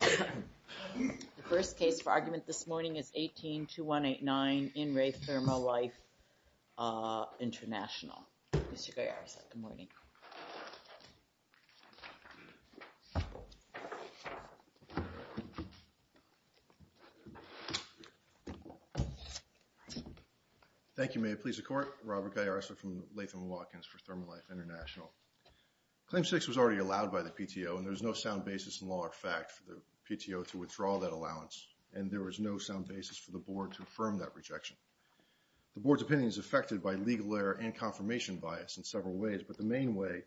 The first case for argument this morning is 18-2189 in Re ThermoLife International. Mr. Gallarosa, good morning. Thank you, Mayor. Police and Court, Robert Gallarosa from Latham & Watkins for ThermoLife International. Claim 6 was already allowed by the PTO and there's no sound basis in law or fact for the PTO to withdraw that allowance and there was no sound basis for the Board to affirm that rejection. The Board's opinion is affected by legal error and confirmation bias in several ways, but the main way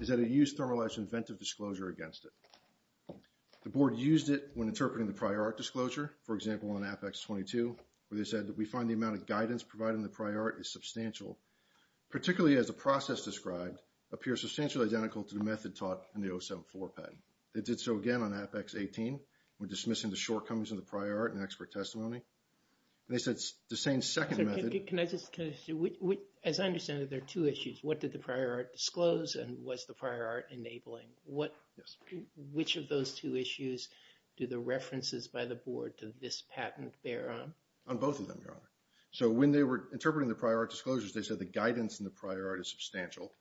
is that it used ThermoLife's inventive disclosure against it. The Board used it when interpreting the prior art disclosure, for example, on Apex 22, where they said that we find the amount of guidance provided in the prior art is substantial, particularly as the process described appears substantially identical to the method taught in the 074 patent. They did so again on Apex 18, when dismissing the shortcomings of the prior art and expert testimony. And they said the same second method... Can I just... As I understand it, there are two issues. What did the prior art disclose and was the prior art enabling? Which of those two issues do the references by the Board to this patent bear on? On both of them, Your Honor. So when they were interpreting the prior art disclosures, they said the guidance in the prior art is substantial.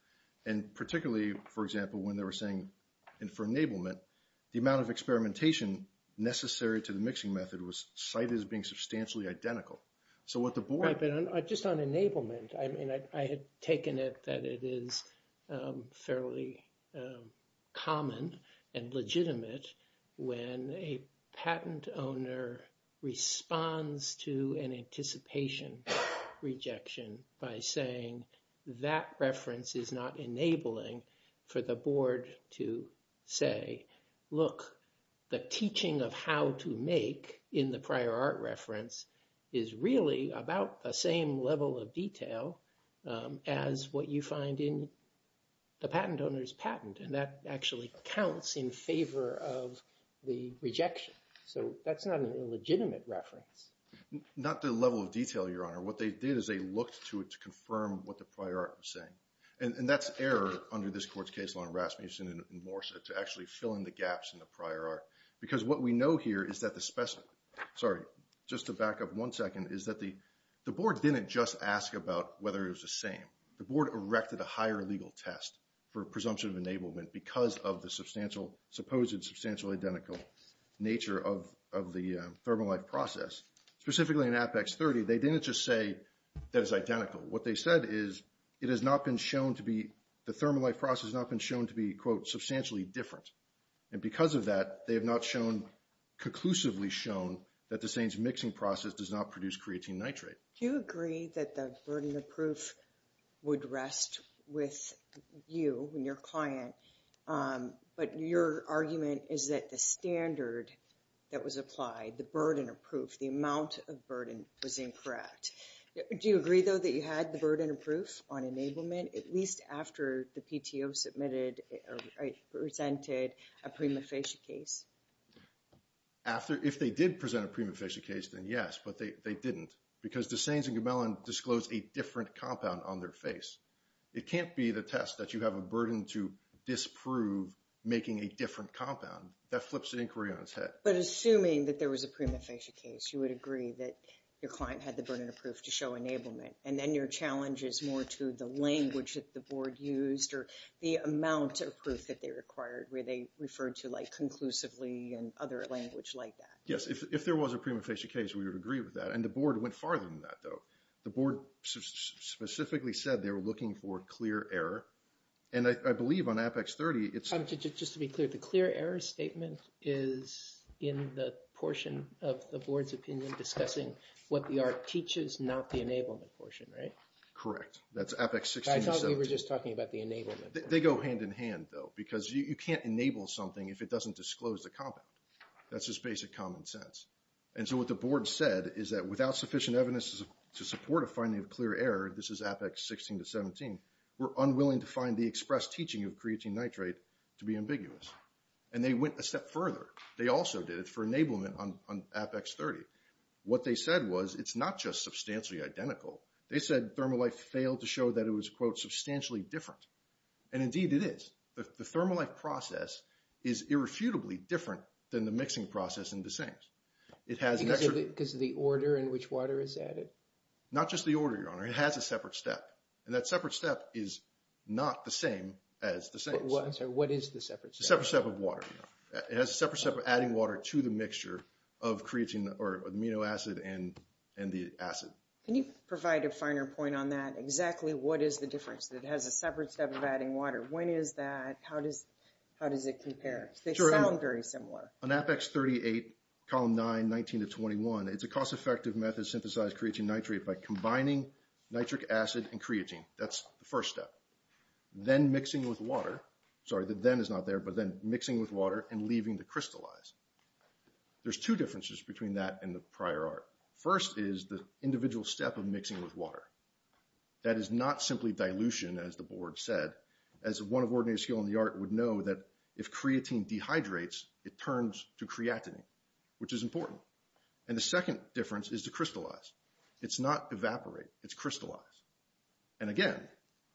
And particularly, for example, when they were saying for enablement, the amount of experimentation necessary to the mixing method was cited as being substantially identical. So what the Board... Right, but just on enablement, I mean, I had taken it that it is fairly common and legitimate when a patent owner responds to an anticipation rejection by saying that reference is not enabling for the Board to say, look, the teaching of how to make in the prior art reference is really about the same level of detail as what you find in the patent owner's patent. And that actually counts in favor of the rejection. So that's not an illegitimate reference. Not the level of detail, Your Honor. What they did is they looked to it to confirm what the prior art was saying. And that's error under this Court's case on Rasmussen and Morsa to actually fill in the gaps in the prior art. Because what we know here is that the specimen... Sorry, just to back up one second, is that the Board didn't just ask about whether it was the same. The Board erected a higher legal test for presumption of enablement because of the supposed substantially identical nature of the thermal life process, specifically in Apex 30. They didn't just say that it's identical. What they said is it has not been shown to be... The thermal life process has not been shown to be, quote, substantially different. And because of that, they have not conclusively shown that the Sains mixing process does not produce creatine nitrate. Do you agree that the burden of proof would rest with you and your client? But your argument is that the standard that was applied, the burden of proof, the amount of burden was incorrect. Do you agree, though, that you had the burden of proof on enablement at least after the PTO submitted or presented a prima facie case? If they did present a prima facie case, then yes. But they didn't. Because the Sains and Gomelan disclosed a different compound on their face. It can't be the test that you have a burden to disprove making a different compound. That flips an inquiry on its head. But assuming that there was a prima facie case, you would agree that your client had the burden of proof to show enablement. And then your challenge is more to the language that the Board used or the amount of proof that they required, where they referred to, like, conclusively and other language like that. Yes. If there was a prima facie case, we would agree with that. And the Board went farther than that, though. The Board specifically said they were looking for clear error. And I believe on Apex 30, it's... Just to be clear, the clear error statement is in the portion of the Board's opinion discussing what the art teaches, not the enablement portion, right? Correct. That's Apex 16 to 17. I thought we were just talking about the enablement. They go hand in hand, though. Because you can't enable something if it doesn't disclose the compound. That's just basic common sense. And so what the Board said is that without sufficient evidence to support a finding of clear error, this is Apex 16 to 17, we're unwilling to find the express teaching of creatine nitrate to be ambiguous. And they went a step further. They also did it for enablement on Apex 30. What they said was it's not just substantially identical. They said Thermolife failed to show that it was, quote, substantially different. And indeed it is. The Thermolife process is irrefutably different than the mixing process in the same. It has an extra... Because of the order in which water is added? Not just the order, Your Honor. It has a separate step. And that separate step is not the same as the same step. I'm sorry. What is the separate step? The separate step of water. It has a separate step of adding water to the mixture of creatine or amino acid and the acid. Can you provide a finer point on that? Exactly what is the difference? It has a separate step of adding water. When is that? How does it compare? Sure. They sound very similar. On Apex 38, column 9, 19 to 21, it's a cost-effective method to synthesize creatine nitrate by combining nitric acid and creatine. That's the first step. Then mixing with water. Sorry, the then is not there, but then mixing with water and leaving to crystallize. There's two differences between that and the prior art. First is the individual step of mixing with water. That is not simply dilution, as the board said. As one of ordinary skill in the art would know that if creatine dehydrates, it turns to creatinine, which is important. And the second difference is to crystallize. It's not evaporate, it's crystallize. And again,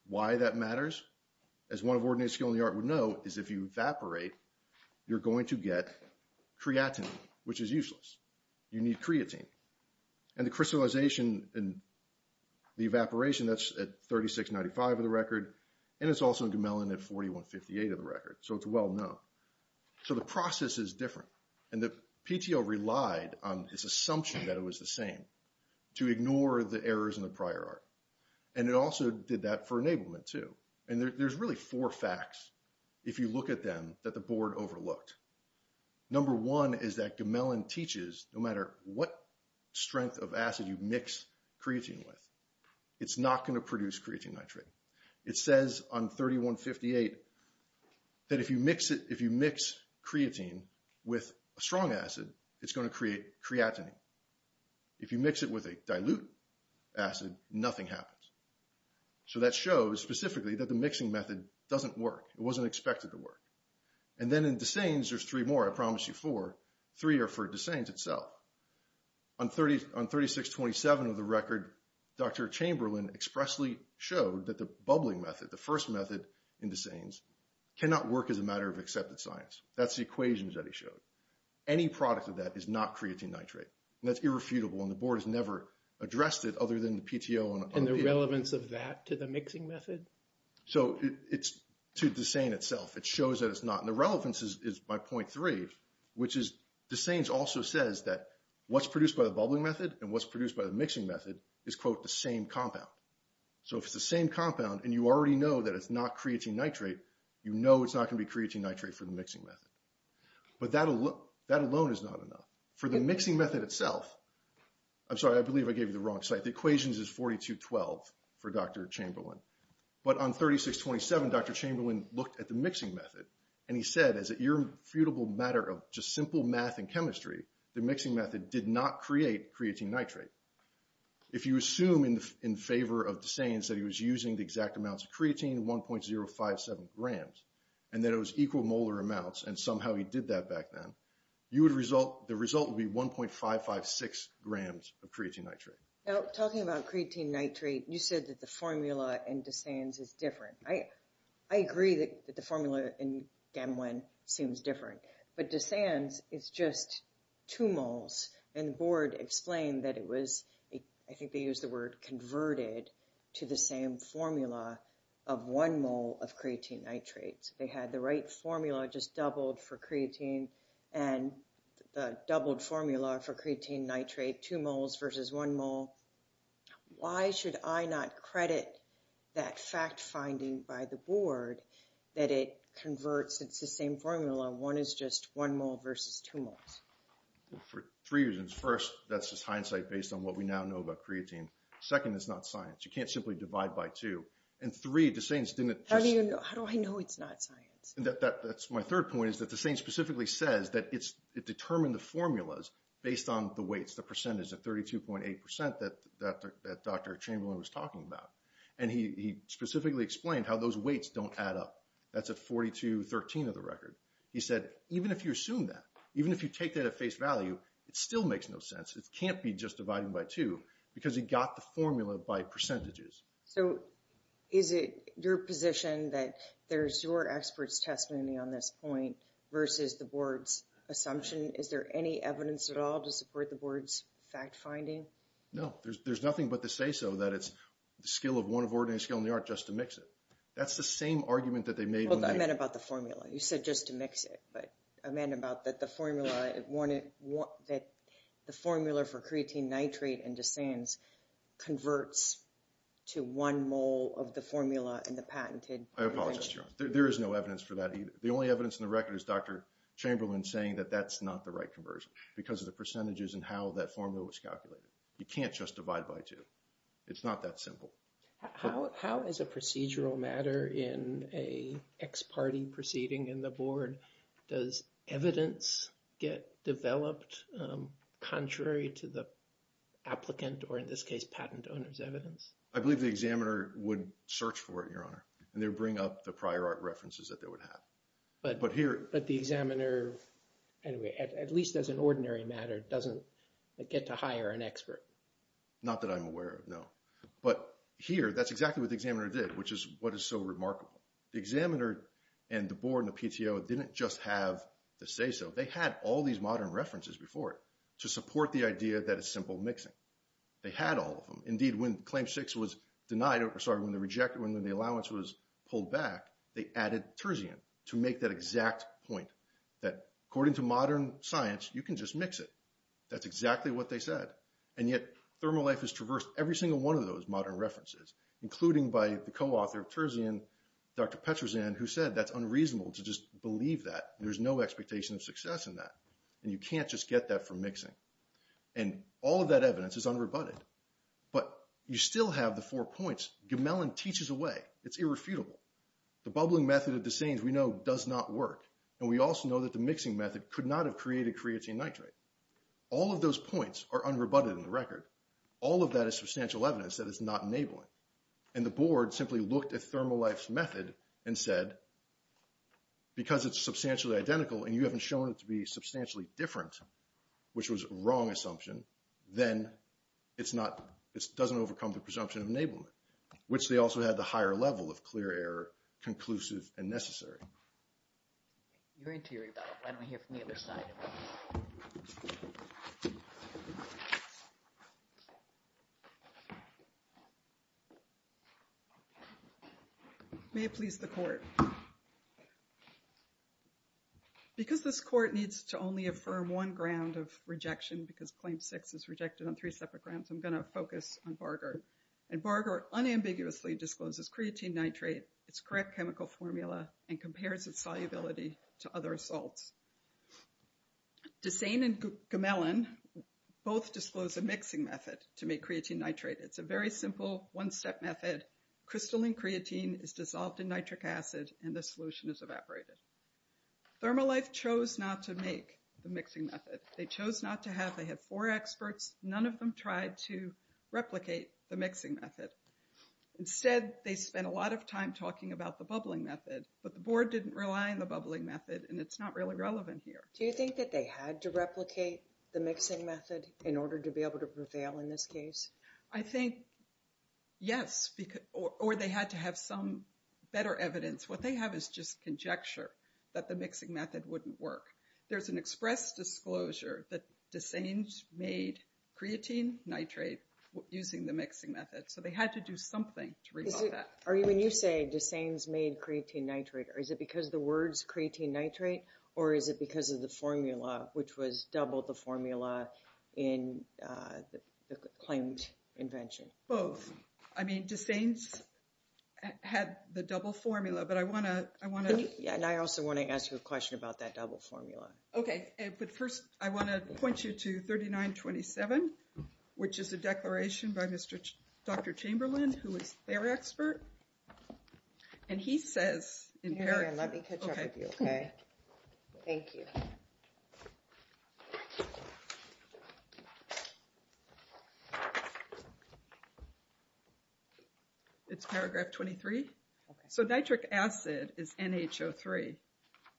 why that matters, as one of ordinary skill in the art would know, is if you evaporate, you're going to get creatinine, which is useless. You need creatine. And the crystallization and the evaporation, that's at 3695 of the record, and it's also in Gamellan at 4158 of the record. So it's well-known. So the process is different, and the PTO relied on this assumption that it was the same to ignore the errors in the prior art. And it also did that for enablement, too. And there's really four facts, if you look at them, that the board overlooked. Number one is that Gamellan teaches no matter what strength of acid you mix creatine with, it's not going to produce creatine nitrate. It says on 3158 that if you mix creatine with a strong acid, it's going to create creatinine. If you mix it with a dilute acid, nothing happens. So that shows specifically that the mixing method doesn't work. It wasn't expected to work. And then in Desane's, there's three more, I promise you, four. Three are for Desane's itself. On 3627 of the record, Dr. Chamberlain expressly showed that the bubbling method, the first method in Desane's, cannot work as a matter of accepted science. That's the equations that he showed. Any product of that is not creatine nitrate, and that's irrefutable, and the board has never addressed it other than the PTO and RPA. And the relevance of that to the mixing method? So it's to Desane itself. It shows that it's not. And the relevance is by 0.3, which is Desane's also says that what's produced by the bubbling method and what's produced by the mixing method is, quote, the same compound. So if it's the same compound and you already know that it's not creatine nitrate, you know it's not going to be creatine nitrate for the mixing method. But that alone is not enough. For the mixing method itself, I'm sorry, I believe I gave you the wrong site. The equations is 4212 for Dr. Chamberlain. But on 3627, Dr. Chamberlain looked at the mixing method, and he said as an irrefutable matter of just simple math and chemistry, the mixing method did not create creatine nitrate. If you assume in favor of Desane's that he was using the exact amounts of creatine, 1.057 grams, and that it was equal molar amounts, and somehow he did that back then, you would result, the result would be 1.556 grams of creatine nitrate. Now, talking about creatine nitrate, you said that the formula in Desane's is different. I agree that the formula in Gamwin seems different, but Desane's is just two moles, and the board explained that it was, I think they used the word converted, to the same formula of one mole of creatine nitrate. They had the right formula just doubled for creatine, and the doubled formula for creatine nitrate, two moles versus one mole. Why should I not credit that fact finding by the board that it converts, it's the same formula, one is just one mole versus two moles? For three reasons. First, that's just hindsight based on what we now know about creatine. Second, it's not science. You can't simply divide by two. And three, Desane's didn't just- How do I know it's not science? My third point is that Desane's specifically says that it determined the formulas based on the weights, the percentage of 32.8% that Dr. Chamberlain was talking about. And he specifically explained how those weights don't add up. That's at 42.13 of the record. He said, even if you assume that, even if you take that at face value, it still makes no sense. It can't be just dividing by two, because he got the formula by percentages. So is it your position that there's your expert's testimony on this point versus the board's assumption? Is there any evidence at all to support the board's fact finding? No. There's nothing but to say so that it's the skill of one of ordinary skill in the art just to mix it. That's the same argument that they made- Well, I meant about the formula. You said just to mix it, but I meant about that the formula, that the formula for creatine nitrate in Desane's converts to one mole of the formula in the patented- I apologize, Your Honor. There is no evidence for that either. The only evidence in the record is Dr. Chamberlain saying that that's not the right conversion because of the percentages and how that formula was calculated. You can't just divide by two. It's not that simple. How is a procedural matter in an ex-party proceeding in the board, does evidence get developed contrary to the applicant, or in this case, patent owner's evidence? I believe the examiner would search for it, Your Honor, and they would bring up the prior art references that they would have. But here- But the examiner, anyway, at least as an ordinary matter, doesn't get to hire an expert. Not that I'm aware of, no. But here, that's exactly what the examiner did, which is what is so remarkable. The examiner and the board and the PTO didn't just have to say so. They had all these modern references before it to support the idea that it's simple mixing. They had all of them. Indeed, when Claim 6 was denied, or sorry, when they rejected, when the allowance was denied, they added Terzian to make that exact point, that according to modern science, you can just mix it. That's exactly what they said. And yet, ThermoLife has traversed every single one of those modern references, including by the co-author of Terzian, Dr. Petrozan, who said that's unreasonable to just believe that. There's no expectation of success in that, and you can't just get that from mixing. And all of that evidence is unrebutted. But you still have the four points. Gemellan teaches away. It's irrefutable. The bubbling method at Desane's we know does not work, and we also know that the mixing method could not have created creatine nitrate. All of those points are unrebutted in the record. All of that is substantial evidence that it's not enabling. And the board simply looked at ThermoLife's method and said, because it's substantially identical and you haven't shown it to be substantially different, which was a wrong assumption, then it's not, it doesn't overcome the presumption of enablement, which they also had the higher level of clear error, conclusive, and necessary. You're into your rebuttal, why don't we hear from the other side? May it please the court. Because this court needs to only affirm one ground of rejection, because Claim 6 is rejected on three separate grounds, I'm going to focus on Bargard. And Bargard unambiguously discloses creatine nitrate, its correct chemical formula, and compares its solubility to other salts. Desane and Gemellan both disclose a mixing method to make creatine nitrate. It's a very simple one-step method. Crystalline creatine is dissolved in nitric acid, and the solution is evaporated. ThermoLife chose not to make the mixing method. They chose not to have, they had four experts. None of them tried to replicate the mixing method. Instead, they spent a lot of time talking about the bubbling method, but the board didn't rely on the bubbling method, and it's not really relevant here. Do you think that they had to replicate the mixing method in order to be able to prevail in this case? I think yes, or they had to have some better evidence. What they have is just conjecture that the mixing method wouldn't work. There's an express disclosure that Desane's made creatine nitrate using the mixing method, so they had to do something to resolve that. When you say Desane's made creatine nitrate, is it because of the words creatine nitrate, or is it because of the formula, which was double the formula in the claimed invention? Both. I mean, Desane's had the double formula, but I want to... Okay, but first, I want to point you to 3927, which is a declaration by Dr. Chamberlain, who is their expert, and he says in paragraph... Let me catch up with you, okay? Thank you. It's paragraph 23. So nitric acid is NHO3,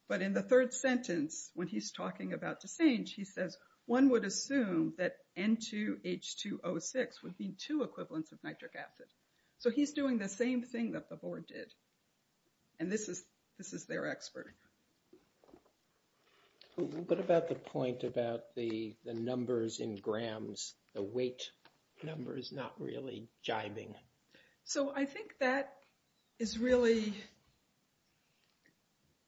but in the third sentence, when he's talking about Desane, he says, one would assume that N2H2O6 would be two equivalents of nitric acid. So he's doing the same thing that the board did, and this is their expert. What about the point about the numbers in grams, the weight number is not really jibing? So I think that is really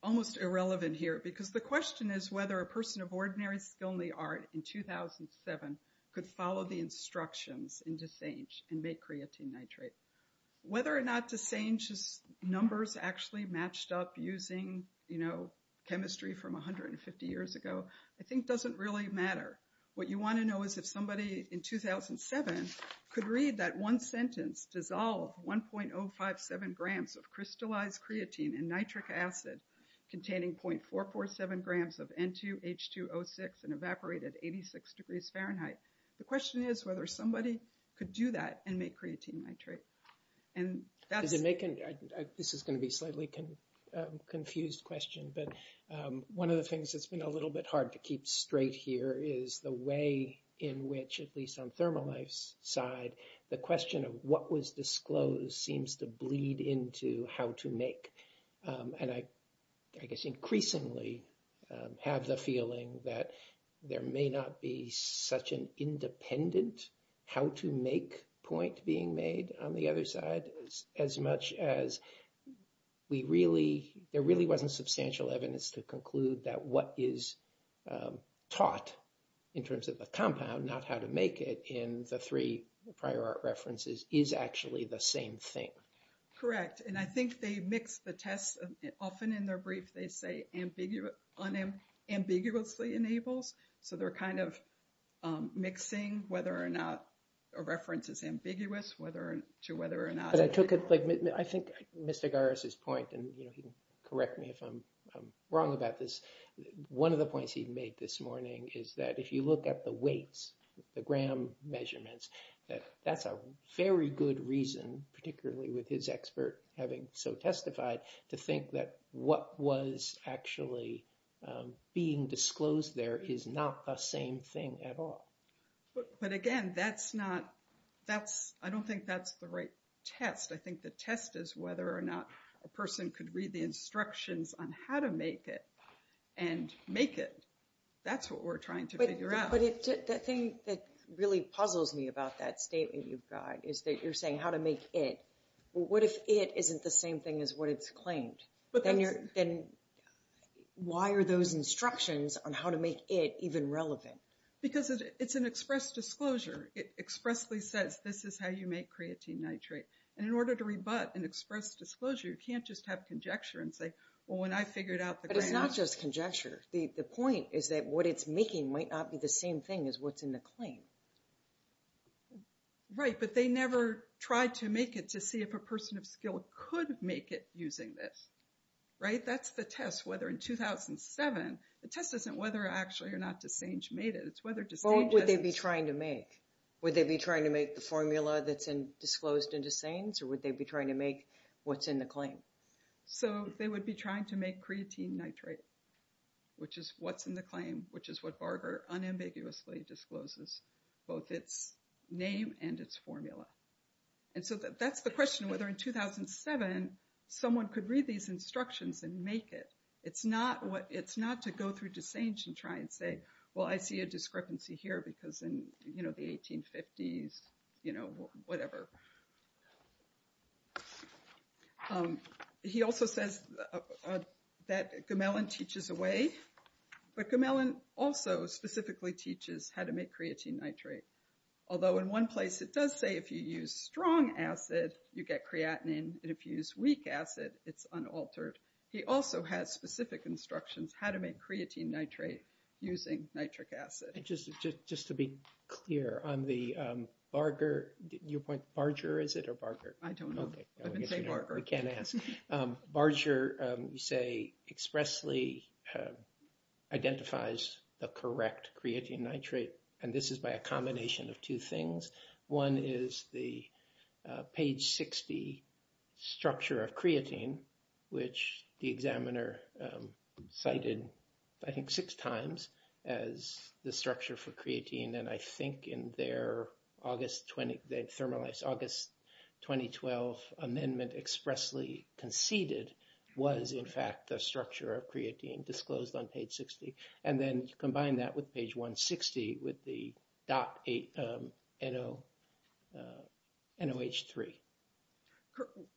almost irrelevant here, because the question is whether a person of ordinary skill in the art in 2007 could follow the instructions in Desane and make creatine nitrate. Whether or not Desane's numbers actually matched up using chemistry from 150 years ago, I think doesn't really matter. What you want to know is if somebody in 2007 could read that one sentence, dissolve 1.057 grams of crystallized creatine in nitric acid containing 0.447 grams of N2H2O6 and evaporate at 86 degrees Fahrenheit. The question is whether somebody could do that and make creatine nitrate. And that's... Is it making... This is going to be a slightly confused question, but one of the things that's been a little bit hard to keep straight here is the way in which, at least on ThermoLife's side, the question of what was disclosed seems to bleed into how to make. And I guess increasingly have the feeling that there may not be such an independent how to make point being made on the other side as much as we really... We have substantial evidence to conclude that what is taught in terms of the compound, not how to make it in the three prior art references, is actually the same thing. Correct. And I think they mix the tests. Often in their brief, they say ambiguously enables. So they're kind of mixing whether or not a reference is ambiguous to whether or not... Because I took it... I think Mr. Garris's point, and he can correct me if I'm wrong about this, one of the points he made this morning is that if you look at the weights, the gram measurements, that that's a very good reason, particularly with his expert having so testified, to think that what was actually being disclosed there is not the same thing at all. But again, that's not... I don't think that's the right test. I think the test is whether or not a person could read the instructions on how to make it and make it. That's what we're trying to figure out. But the thing that really puzzles me about that statement you've got is that you're saying how to make it. What if it isn't the same thing as what it's claimed? Then why are those instructions on how to make it even relevant? Because it's an express disclosure. It expressly says, this is how you make creatine nitrate. And in order to rebut an express disclosure, you can't just have conjecture and say, well, when I figured out the gram... But it's not just conjecture. The point is that what it's making might not be the same thing as what's in the claim. Right, but they never tried to make it to see if a person of skill could make it using this. Right? That's the test. The test isn't whether or not DeSange made it, it's whether DeSange has... What would they be trying to make? Would they be trying to make the formula that's disclosed in DeSange, or would they be trying to make what's in the claim? So they would be trying to make creatine nitrate, which is what's in the claim, which is what Barger unambiguously discloses, both its name and its formula. And so that's the question, whether in 2007 someone could read these instructions and make it. It's not to go through DeSange and try and say, well, I see a discrepancy here because in the 1850s, you know, whatever. He also says that Gamellan teaches a way, but Gamellan also specifically teaches how to make creatine nitrate. Although in one place it does say if you use strong acid you get creatinine, and if you use weak acid it's unaltered. He also has specific instructions how to make creatine nitrate using nitric acid. Just to be clear, on the Barger, your point, Barger, is it, or Barger? I don't know. I didn't say Barger. We can't ask. Barger, you say, expressly identifies the correct creatine nitrate. And this is by a combination of two things. One is the page 60 structure of creatine, which the examiner cited, I think, six times as the structure for creatine. And I think in their August 20, the Thermolife's August 2012 amendment expressly conceded was in fact the structure of creatine disclosed on page 60. And then you combine that with page 160 with the DOT NOH3.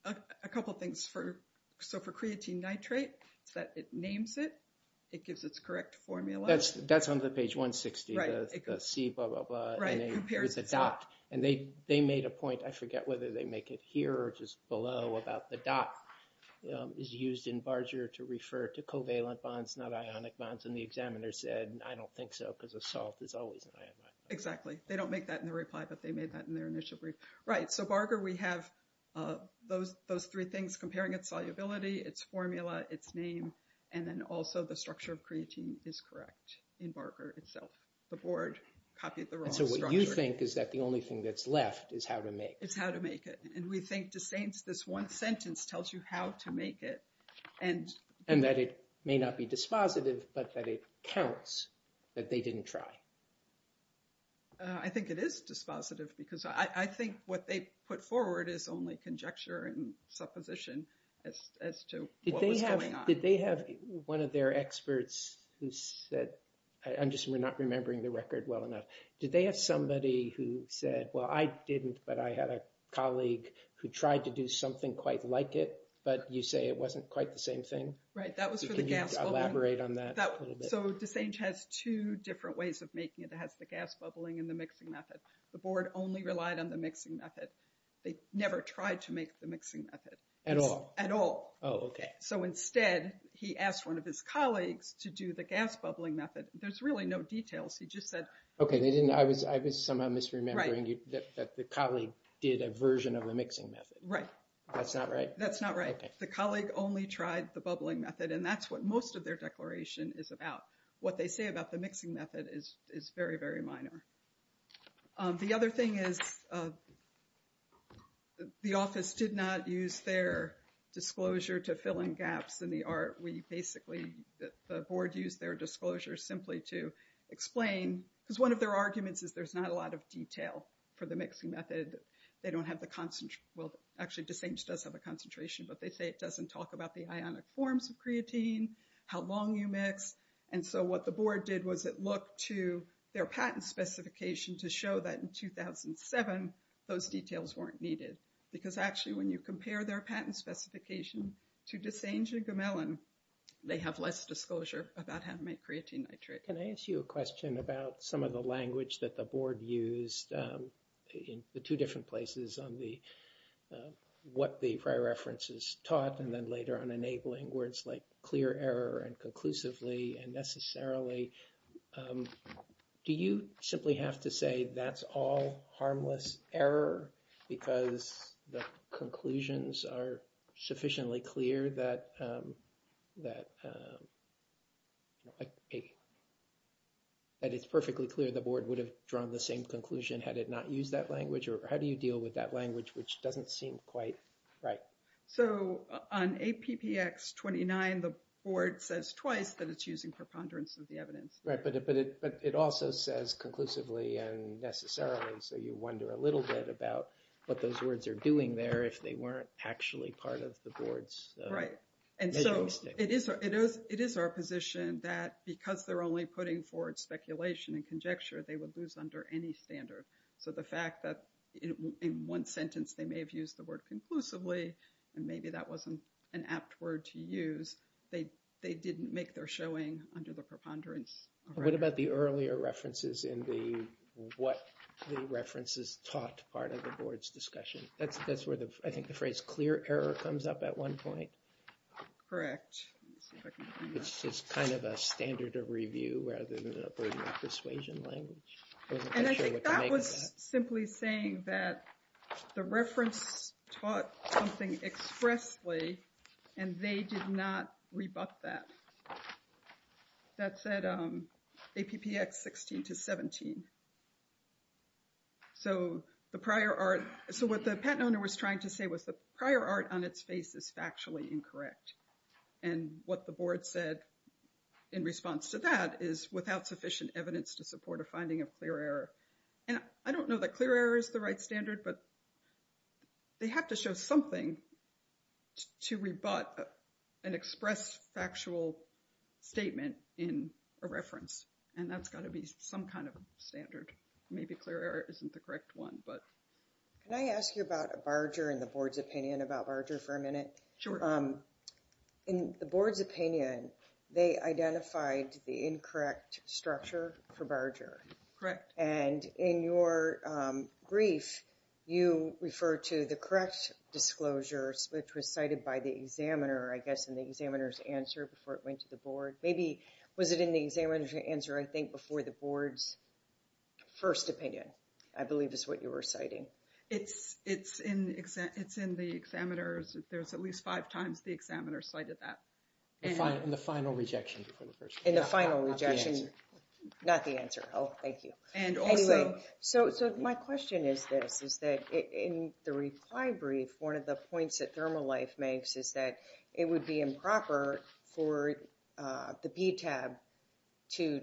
A couple things for, so for creatine nitrate, it's that it names it, it gives its correct formula. That's on the page 160, the C blah, blah, blah, and there's a DOT. And they made a point, I forget whether they make it here or just below, about the DOT is used in Barger to refer to covalent bonds, not ionic bonds. And the examiner said, I don't think so, because a salt is always an ionic bond. Exactly. They don't make that in the reply, but they made that in their initial brief. Right. So Barger, we have those three things comparing its solubility, its formula, its name, and then also the structure of creatine is correct in Barger itself. The board copied the wrong structure. And so what you think is that the only thing that's left is how to make it. It's how to make it. And we think to saints, this one sentence tells you how to make it. And that it may not be dispositive, but that it counts that they didn't try. I think it is dispositive, because I think what they put forward is only conjecture and supposition as to what was going on. Did they have one of their experts who said, I'm just not remembering the record well enough. Did they have somebody who said, well, I didn't, but I had a colleague who tried to do something quite like it, but you say it wasn't quite the same thing. Right. That was for the gas. Can you elaborate on that a little bit? So DeSage has two different ways of making it. It has the gas bubbling and the mixing method. The board only relied on the mixing method. They never tried to make the mixing method. At all? At all. Oh, okay. So instead, he asked one of his colleagues to do the gas bubbling method. There's really no details. He just said... Okay, I was somehow misremembering that the colleague did a version of the mixing method. Right. That's not right? That's not right. The colleague only tried the bubbling method, and that's what most of their declaration is about. What they say about the mixing method is very, very minor. The other thing is the office did not use their disclosure to fill in gaps in the art. We basically... The board used their disclosure simply to explain, because one of their arguments is there's not a lot of detail for the mixing method. They don't have the... Well, actually, DeSage does have a concentration, but they say it doesn't talk about the ionic forms of creatine, how long you mix. And so what the board did was it looked to their patent specification to show that in 2007, those details weren't needed. Because actually, when you compare their patent specification to DeSage and Gamellan, they have less disclosure about how to make creatine nitrate. Can I ask you a question about some of the language that the board used in the two different places on what the prior references taught, and then later on enabling words like clear error and conclusively and necessarily. Do you simply have to say that's all harmless error because the conclusions are sufficiently clear that it's perfectly clear the board would have drawn the same conclusion had it not used that language? Or how do you deal with that language, which doesn't seem quite right? So on APPX 29, the board says twice that it's using preponderance of the evidence. Right, but it also says conclusively and necessarily, so you wonder a little bit about what those words are doing there if they weren't actually part of the board's... Right. And so it is our position that because they're only putting forward speculation and conjecture, they would lose under any standard. So the fact that in one sentence they may have used the word conclusively, and maybe that wasn't an apt word to use, they didn't make their showing under the preponderance. What about the earlier references in the what the references taught part of the board's discussion? That's where I think the phrase clear error comes up at one point. Correct. It's just kind of a standard of review rather than persuasion language. And I think that was simply saying that the reference taught something expressly, and they did not rebut that. That said APPX 16 to 17. So the prior art, so what the patent owner was trying to say was the prior art on its face is factually incorrect. And what the board said in response to that is without sufficient evidence to support a finding of clear error. And I don't know that clear error is the right standard, but they have to show something to rebut an express factual statement in a reference. And that's got to be some kind of standard. Maybe clear error isn't the correct one, but. Can I ask you about Barger and the board's opinion about Barger for a minute? Sure. So in the board's opinion, they identified the incorrect structure for Barger. Correct. And in your brief, you refer to the correct disclosures, which was cited by the examiner, I guess, in the examiner's answer before it went to the board. Maybe, was it in the examiner's answer, I think, before the board's first opinion, I believe is what you were citing. It's in the examiner's, there's at least five times the examiner cited that. In the final rejection before the first one. In the final rejection. Not the answer. Not the answer. Oh, thank you. And also. Anyway, so my question is this, is that in the reply brief, one of the points that ThermoLife makes is that it would be improper for the PTAB to,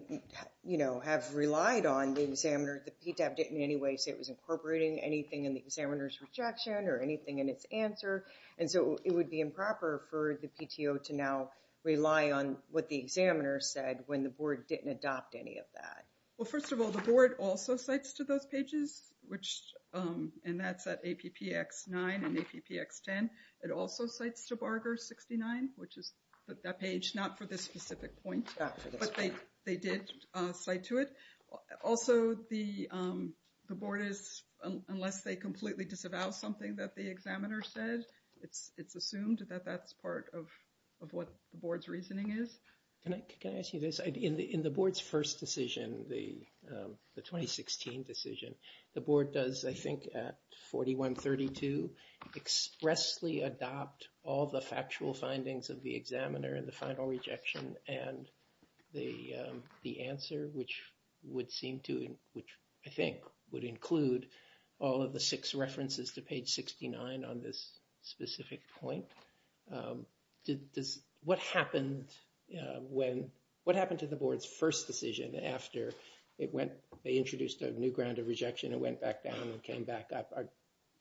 you know, have relied on the examiner. The PTAB didn't in any way say it was incorporating anything in the examiner's rejection or anything in its answer. And so it would be improper for the PTO to now rely on what the examiner said when the board didn't adopt any of that. Well, first of all, the board also cites to those pages, which, and that's at APPX9 and APPX10. It also cites to Barger69, which is that page, not for this specific point, but they did cite to it. Also, the board is, unless they completely disavow something that the examiner said, it's assumed that that's part of what the board's reasoning is. Can I ask you this? In the board's first decision, the 2016 decision, the board does, I think, at 4132, expressly adopt all the factual findings of the examiner in the final rejection and the answer, which would seem to, which I think would include all of the six references to page 69 on this specific point. What happened when, what happened to the board's first decision after it went, they introduced a new ground of rejection and went back down and came back up?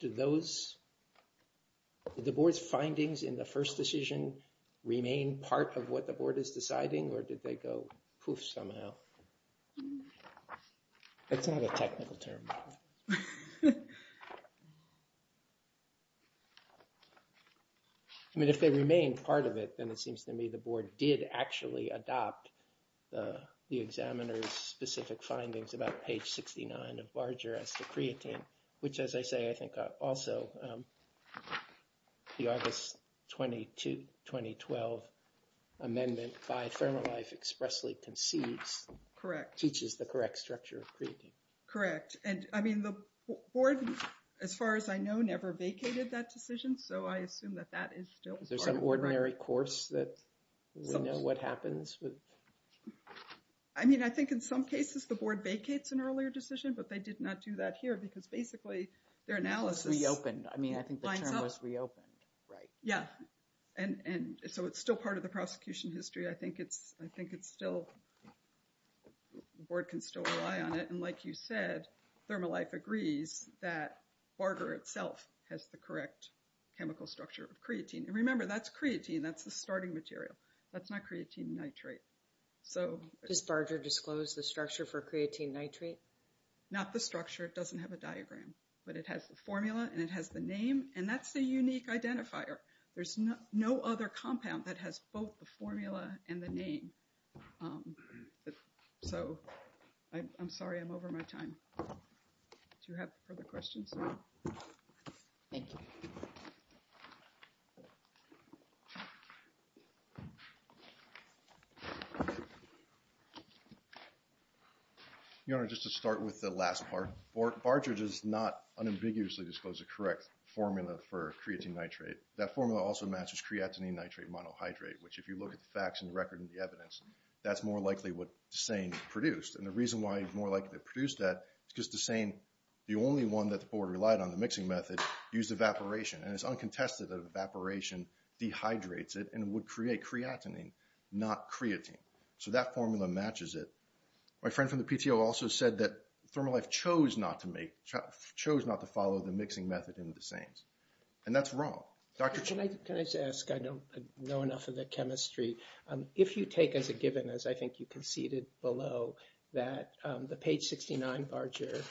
Did those, did the board's findings in the first decision remain part of what the board is deciding, or did they go poof somehow? That's not a technical term. I mean, if they remain part of it, then it seems to me the board did actually adopt the examiner's specific findings about page 69 of Barger as the creatine, which, as I say, I think also the August 22, 2012 amendment by Thermalife expressly concedes, teaches the correct structure of creatine. Correct. And I mean, the board, as far as I know, never vacated that decision, so I assume that that is still part of it. Is there some ordinary course that we know what happens? I mean, I think in some cases the board vacates an earlier decision, but they did not do that here because basically their analysis reopened. I mean, I think the term was reopened, right? Yeah. And so it's still part of the prosecution history. I think it's still, the board can still rely on it, and like you said, Thermalife agrees that Barger itself has the correct chemical structure of creatine. And remember, that's creatine, that's the starting material. That's not creatine nitrate. So does Barger disclose the structure for creatine nitrate? Not the structure. It doesn't have a diagram. But it has the formula and it has the name, and that's the unique identifier. There's no other compound that has both the formula and the name. So I'm sorry, I'm over my time. Do you have further questions? Thank you. Your Honor, just to start with the last part, Barger does not unambiguously disclose the correct formula for creatine nitrate. That formula also matches creatine nitrate monohydrate, which if you look at the facts and the record and the evidence, that's more likely what DeSane produced. And the reason why he's more likely to produce that is because DeSane, the only one that this board relied on, the mixing method, used evaporation. And it's uncontested that evaporation dehydrates it and would create creatinine, not creatine. So that formula matches it. My friend from the PTO also said that Thermolife chose not to follow the mixing method in DeSane's. And that's wrong. Can I just ask, I don't know enough of the chemistry. If you take as a given, as I think you conceded below, that the page 69 Barger,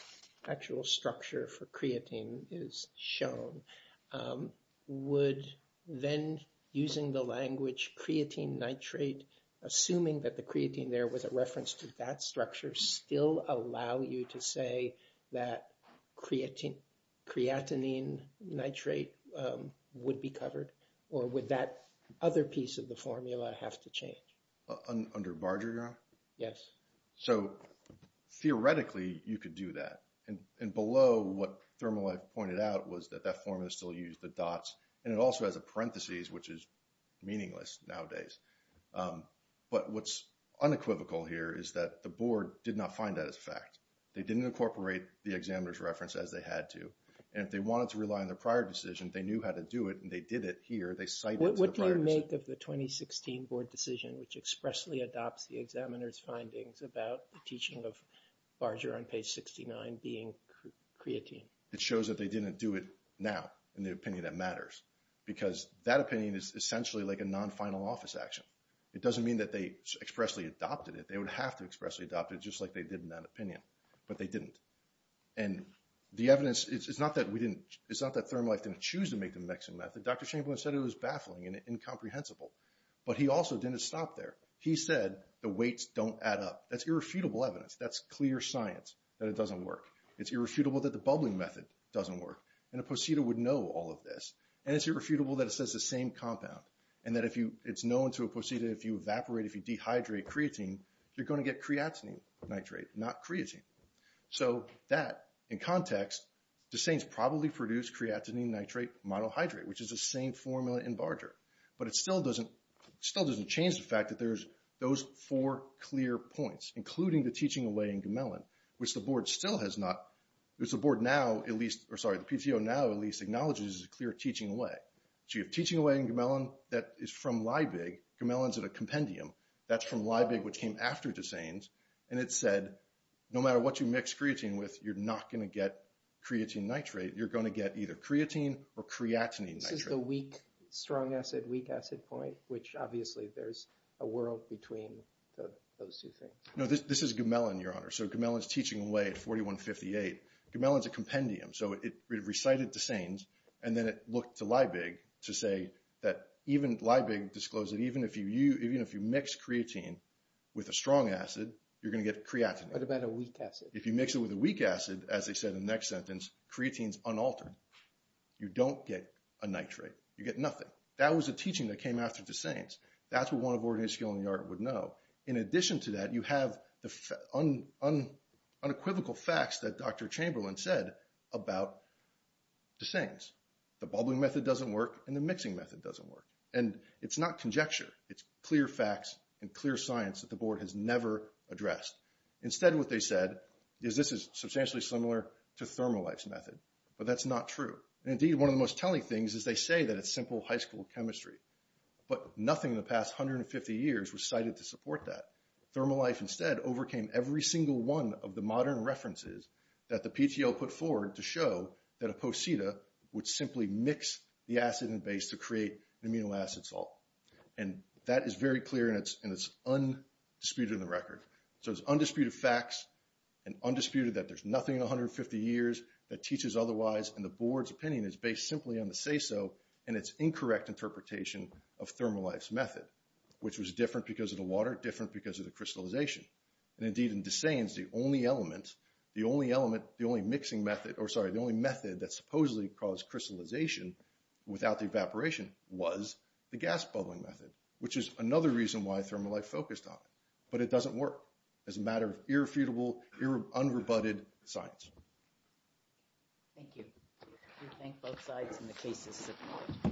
actual structure for creatine is shown, would then using the language creatine nitrate, assuming that the creatine there was a reference to that structure, still allow you to say that creatinine nitrate would be covered? Or would that other piece of the formula have to change? Under Barger, Your Honor? Yes. So theoretically, you could do that. And below, what Thermolife pointed out was that that formula still used the dots. And it also has a parentheses, which is meaningless nowadays. But what's unequivocal here is that the board did not find that as a fact. They didn't incorporate the examiner's reference as they had to. And if they wanted to rely on the prior decision, they knew how to do it, and they did it here. They cited the prior decision. What do you make of the 2016 board decision, which expressly adopts the examiner's findings about the teaching of Barger on page 69 being creatine? It shows that they didn't do it now, in the opinion that matters. Because that opinion is essentially like a non-final office action. It doesn't mean that they expressly adopted it. They would have to expressly adopt it, just like they did in that opinion. But they didn't. And the evidence, it's not that Thermolife didn't choose to make the mixing method. Dr. Chamberlain said it was baffling and incomprehensible. But he also didn't stop there. He said the weights don't add up. That's irrefutable evidence. That's clear science that it doesn't work. It's irrefutable that the bubbling method doesn't work. And a posita would know all of this. And it's irrefutable that it says the same compound. And that if you, it's known to a posita, if you evaporate, if you dehydrate creatine, you're going to get creatinine nitrate, not creatine. So that, in context, Desain's probably produced creatinine nitrate monohydrate, which is a Desain formula in Barger. But it still doesn't change the fact that there's those four clear points, including the teaching away in Gemellan, which the board still has not, which the board now at least, or sorry, the PTO now at least acknowledges is a clear teaching away. So you have teaching away in Gemellan that is from LIBIG. Gemellan's at a compendium. That's from LIBIG, which came after Desain's. And it said, no matter what you mix creatine with, you're not going to get creatine nitrate. You're going to get either creatine or creatinine nitrate. So this is the weak, strong acid, weak acid point, which obviously there's a world between those two things. No, this is Gemellan, Your Honor. So Gemellan's teaching away at 4158. Gemellan's a compendium. So it recited Desain's, and then it looked to LIBIG to say that even LIBIG disclosed that even if you mix creatine with a strong acid, you're going to get creatinine. What about a weak acid? If you mix it with a weak acid, as they said in the next sentence, creatine's unaltered. You don't get a nitrate. You get nothing. That was a teaching that came after Desain's. That's what one of Oregonians here in the yard would know. In addition to that, you have the unequivocal facts that Dr. Chamberlain said about Desain's. The bubbling method doesn't work, and the mixing method doesn't work. And it's not conjecture. It's clear facts and clear science that the board has never addressed. Instead, what they said is this is substantially similar to Thermolife's method, but that's not true. Indeed, one of the most telling things is they say that it's simple high school chemistry, but nothing in the past 150 years was cited to support that. Thermolife instead overcame every single one of the modern references that the PTO put forward to show that a posita would simply mix the acid and base to create an amino acid salt. And that is very clear, and it's undisputed in the record. So it's undisputed facts and undisputed that there's nothing in 150 years that teaches otherwise, and the board's opinion is based simply on the say-so and its incorrect interpretation of Thermolife's method, which was different because of the water, different because of the crystallization. And indeed, in Desain's, the only element, the only element, the only mixing method, or sorry, the only method that supposedly caused crystallization without the evaporation was the gas bubbling method, which is another reason why Thermolife focused on it. But it doesn't work as a matter of irrefutable, unrebutted science. Thank you. We thank both sides and the cases.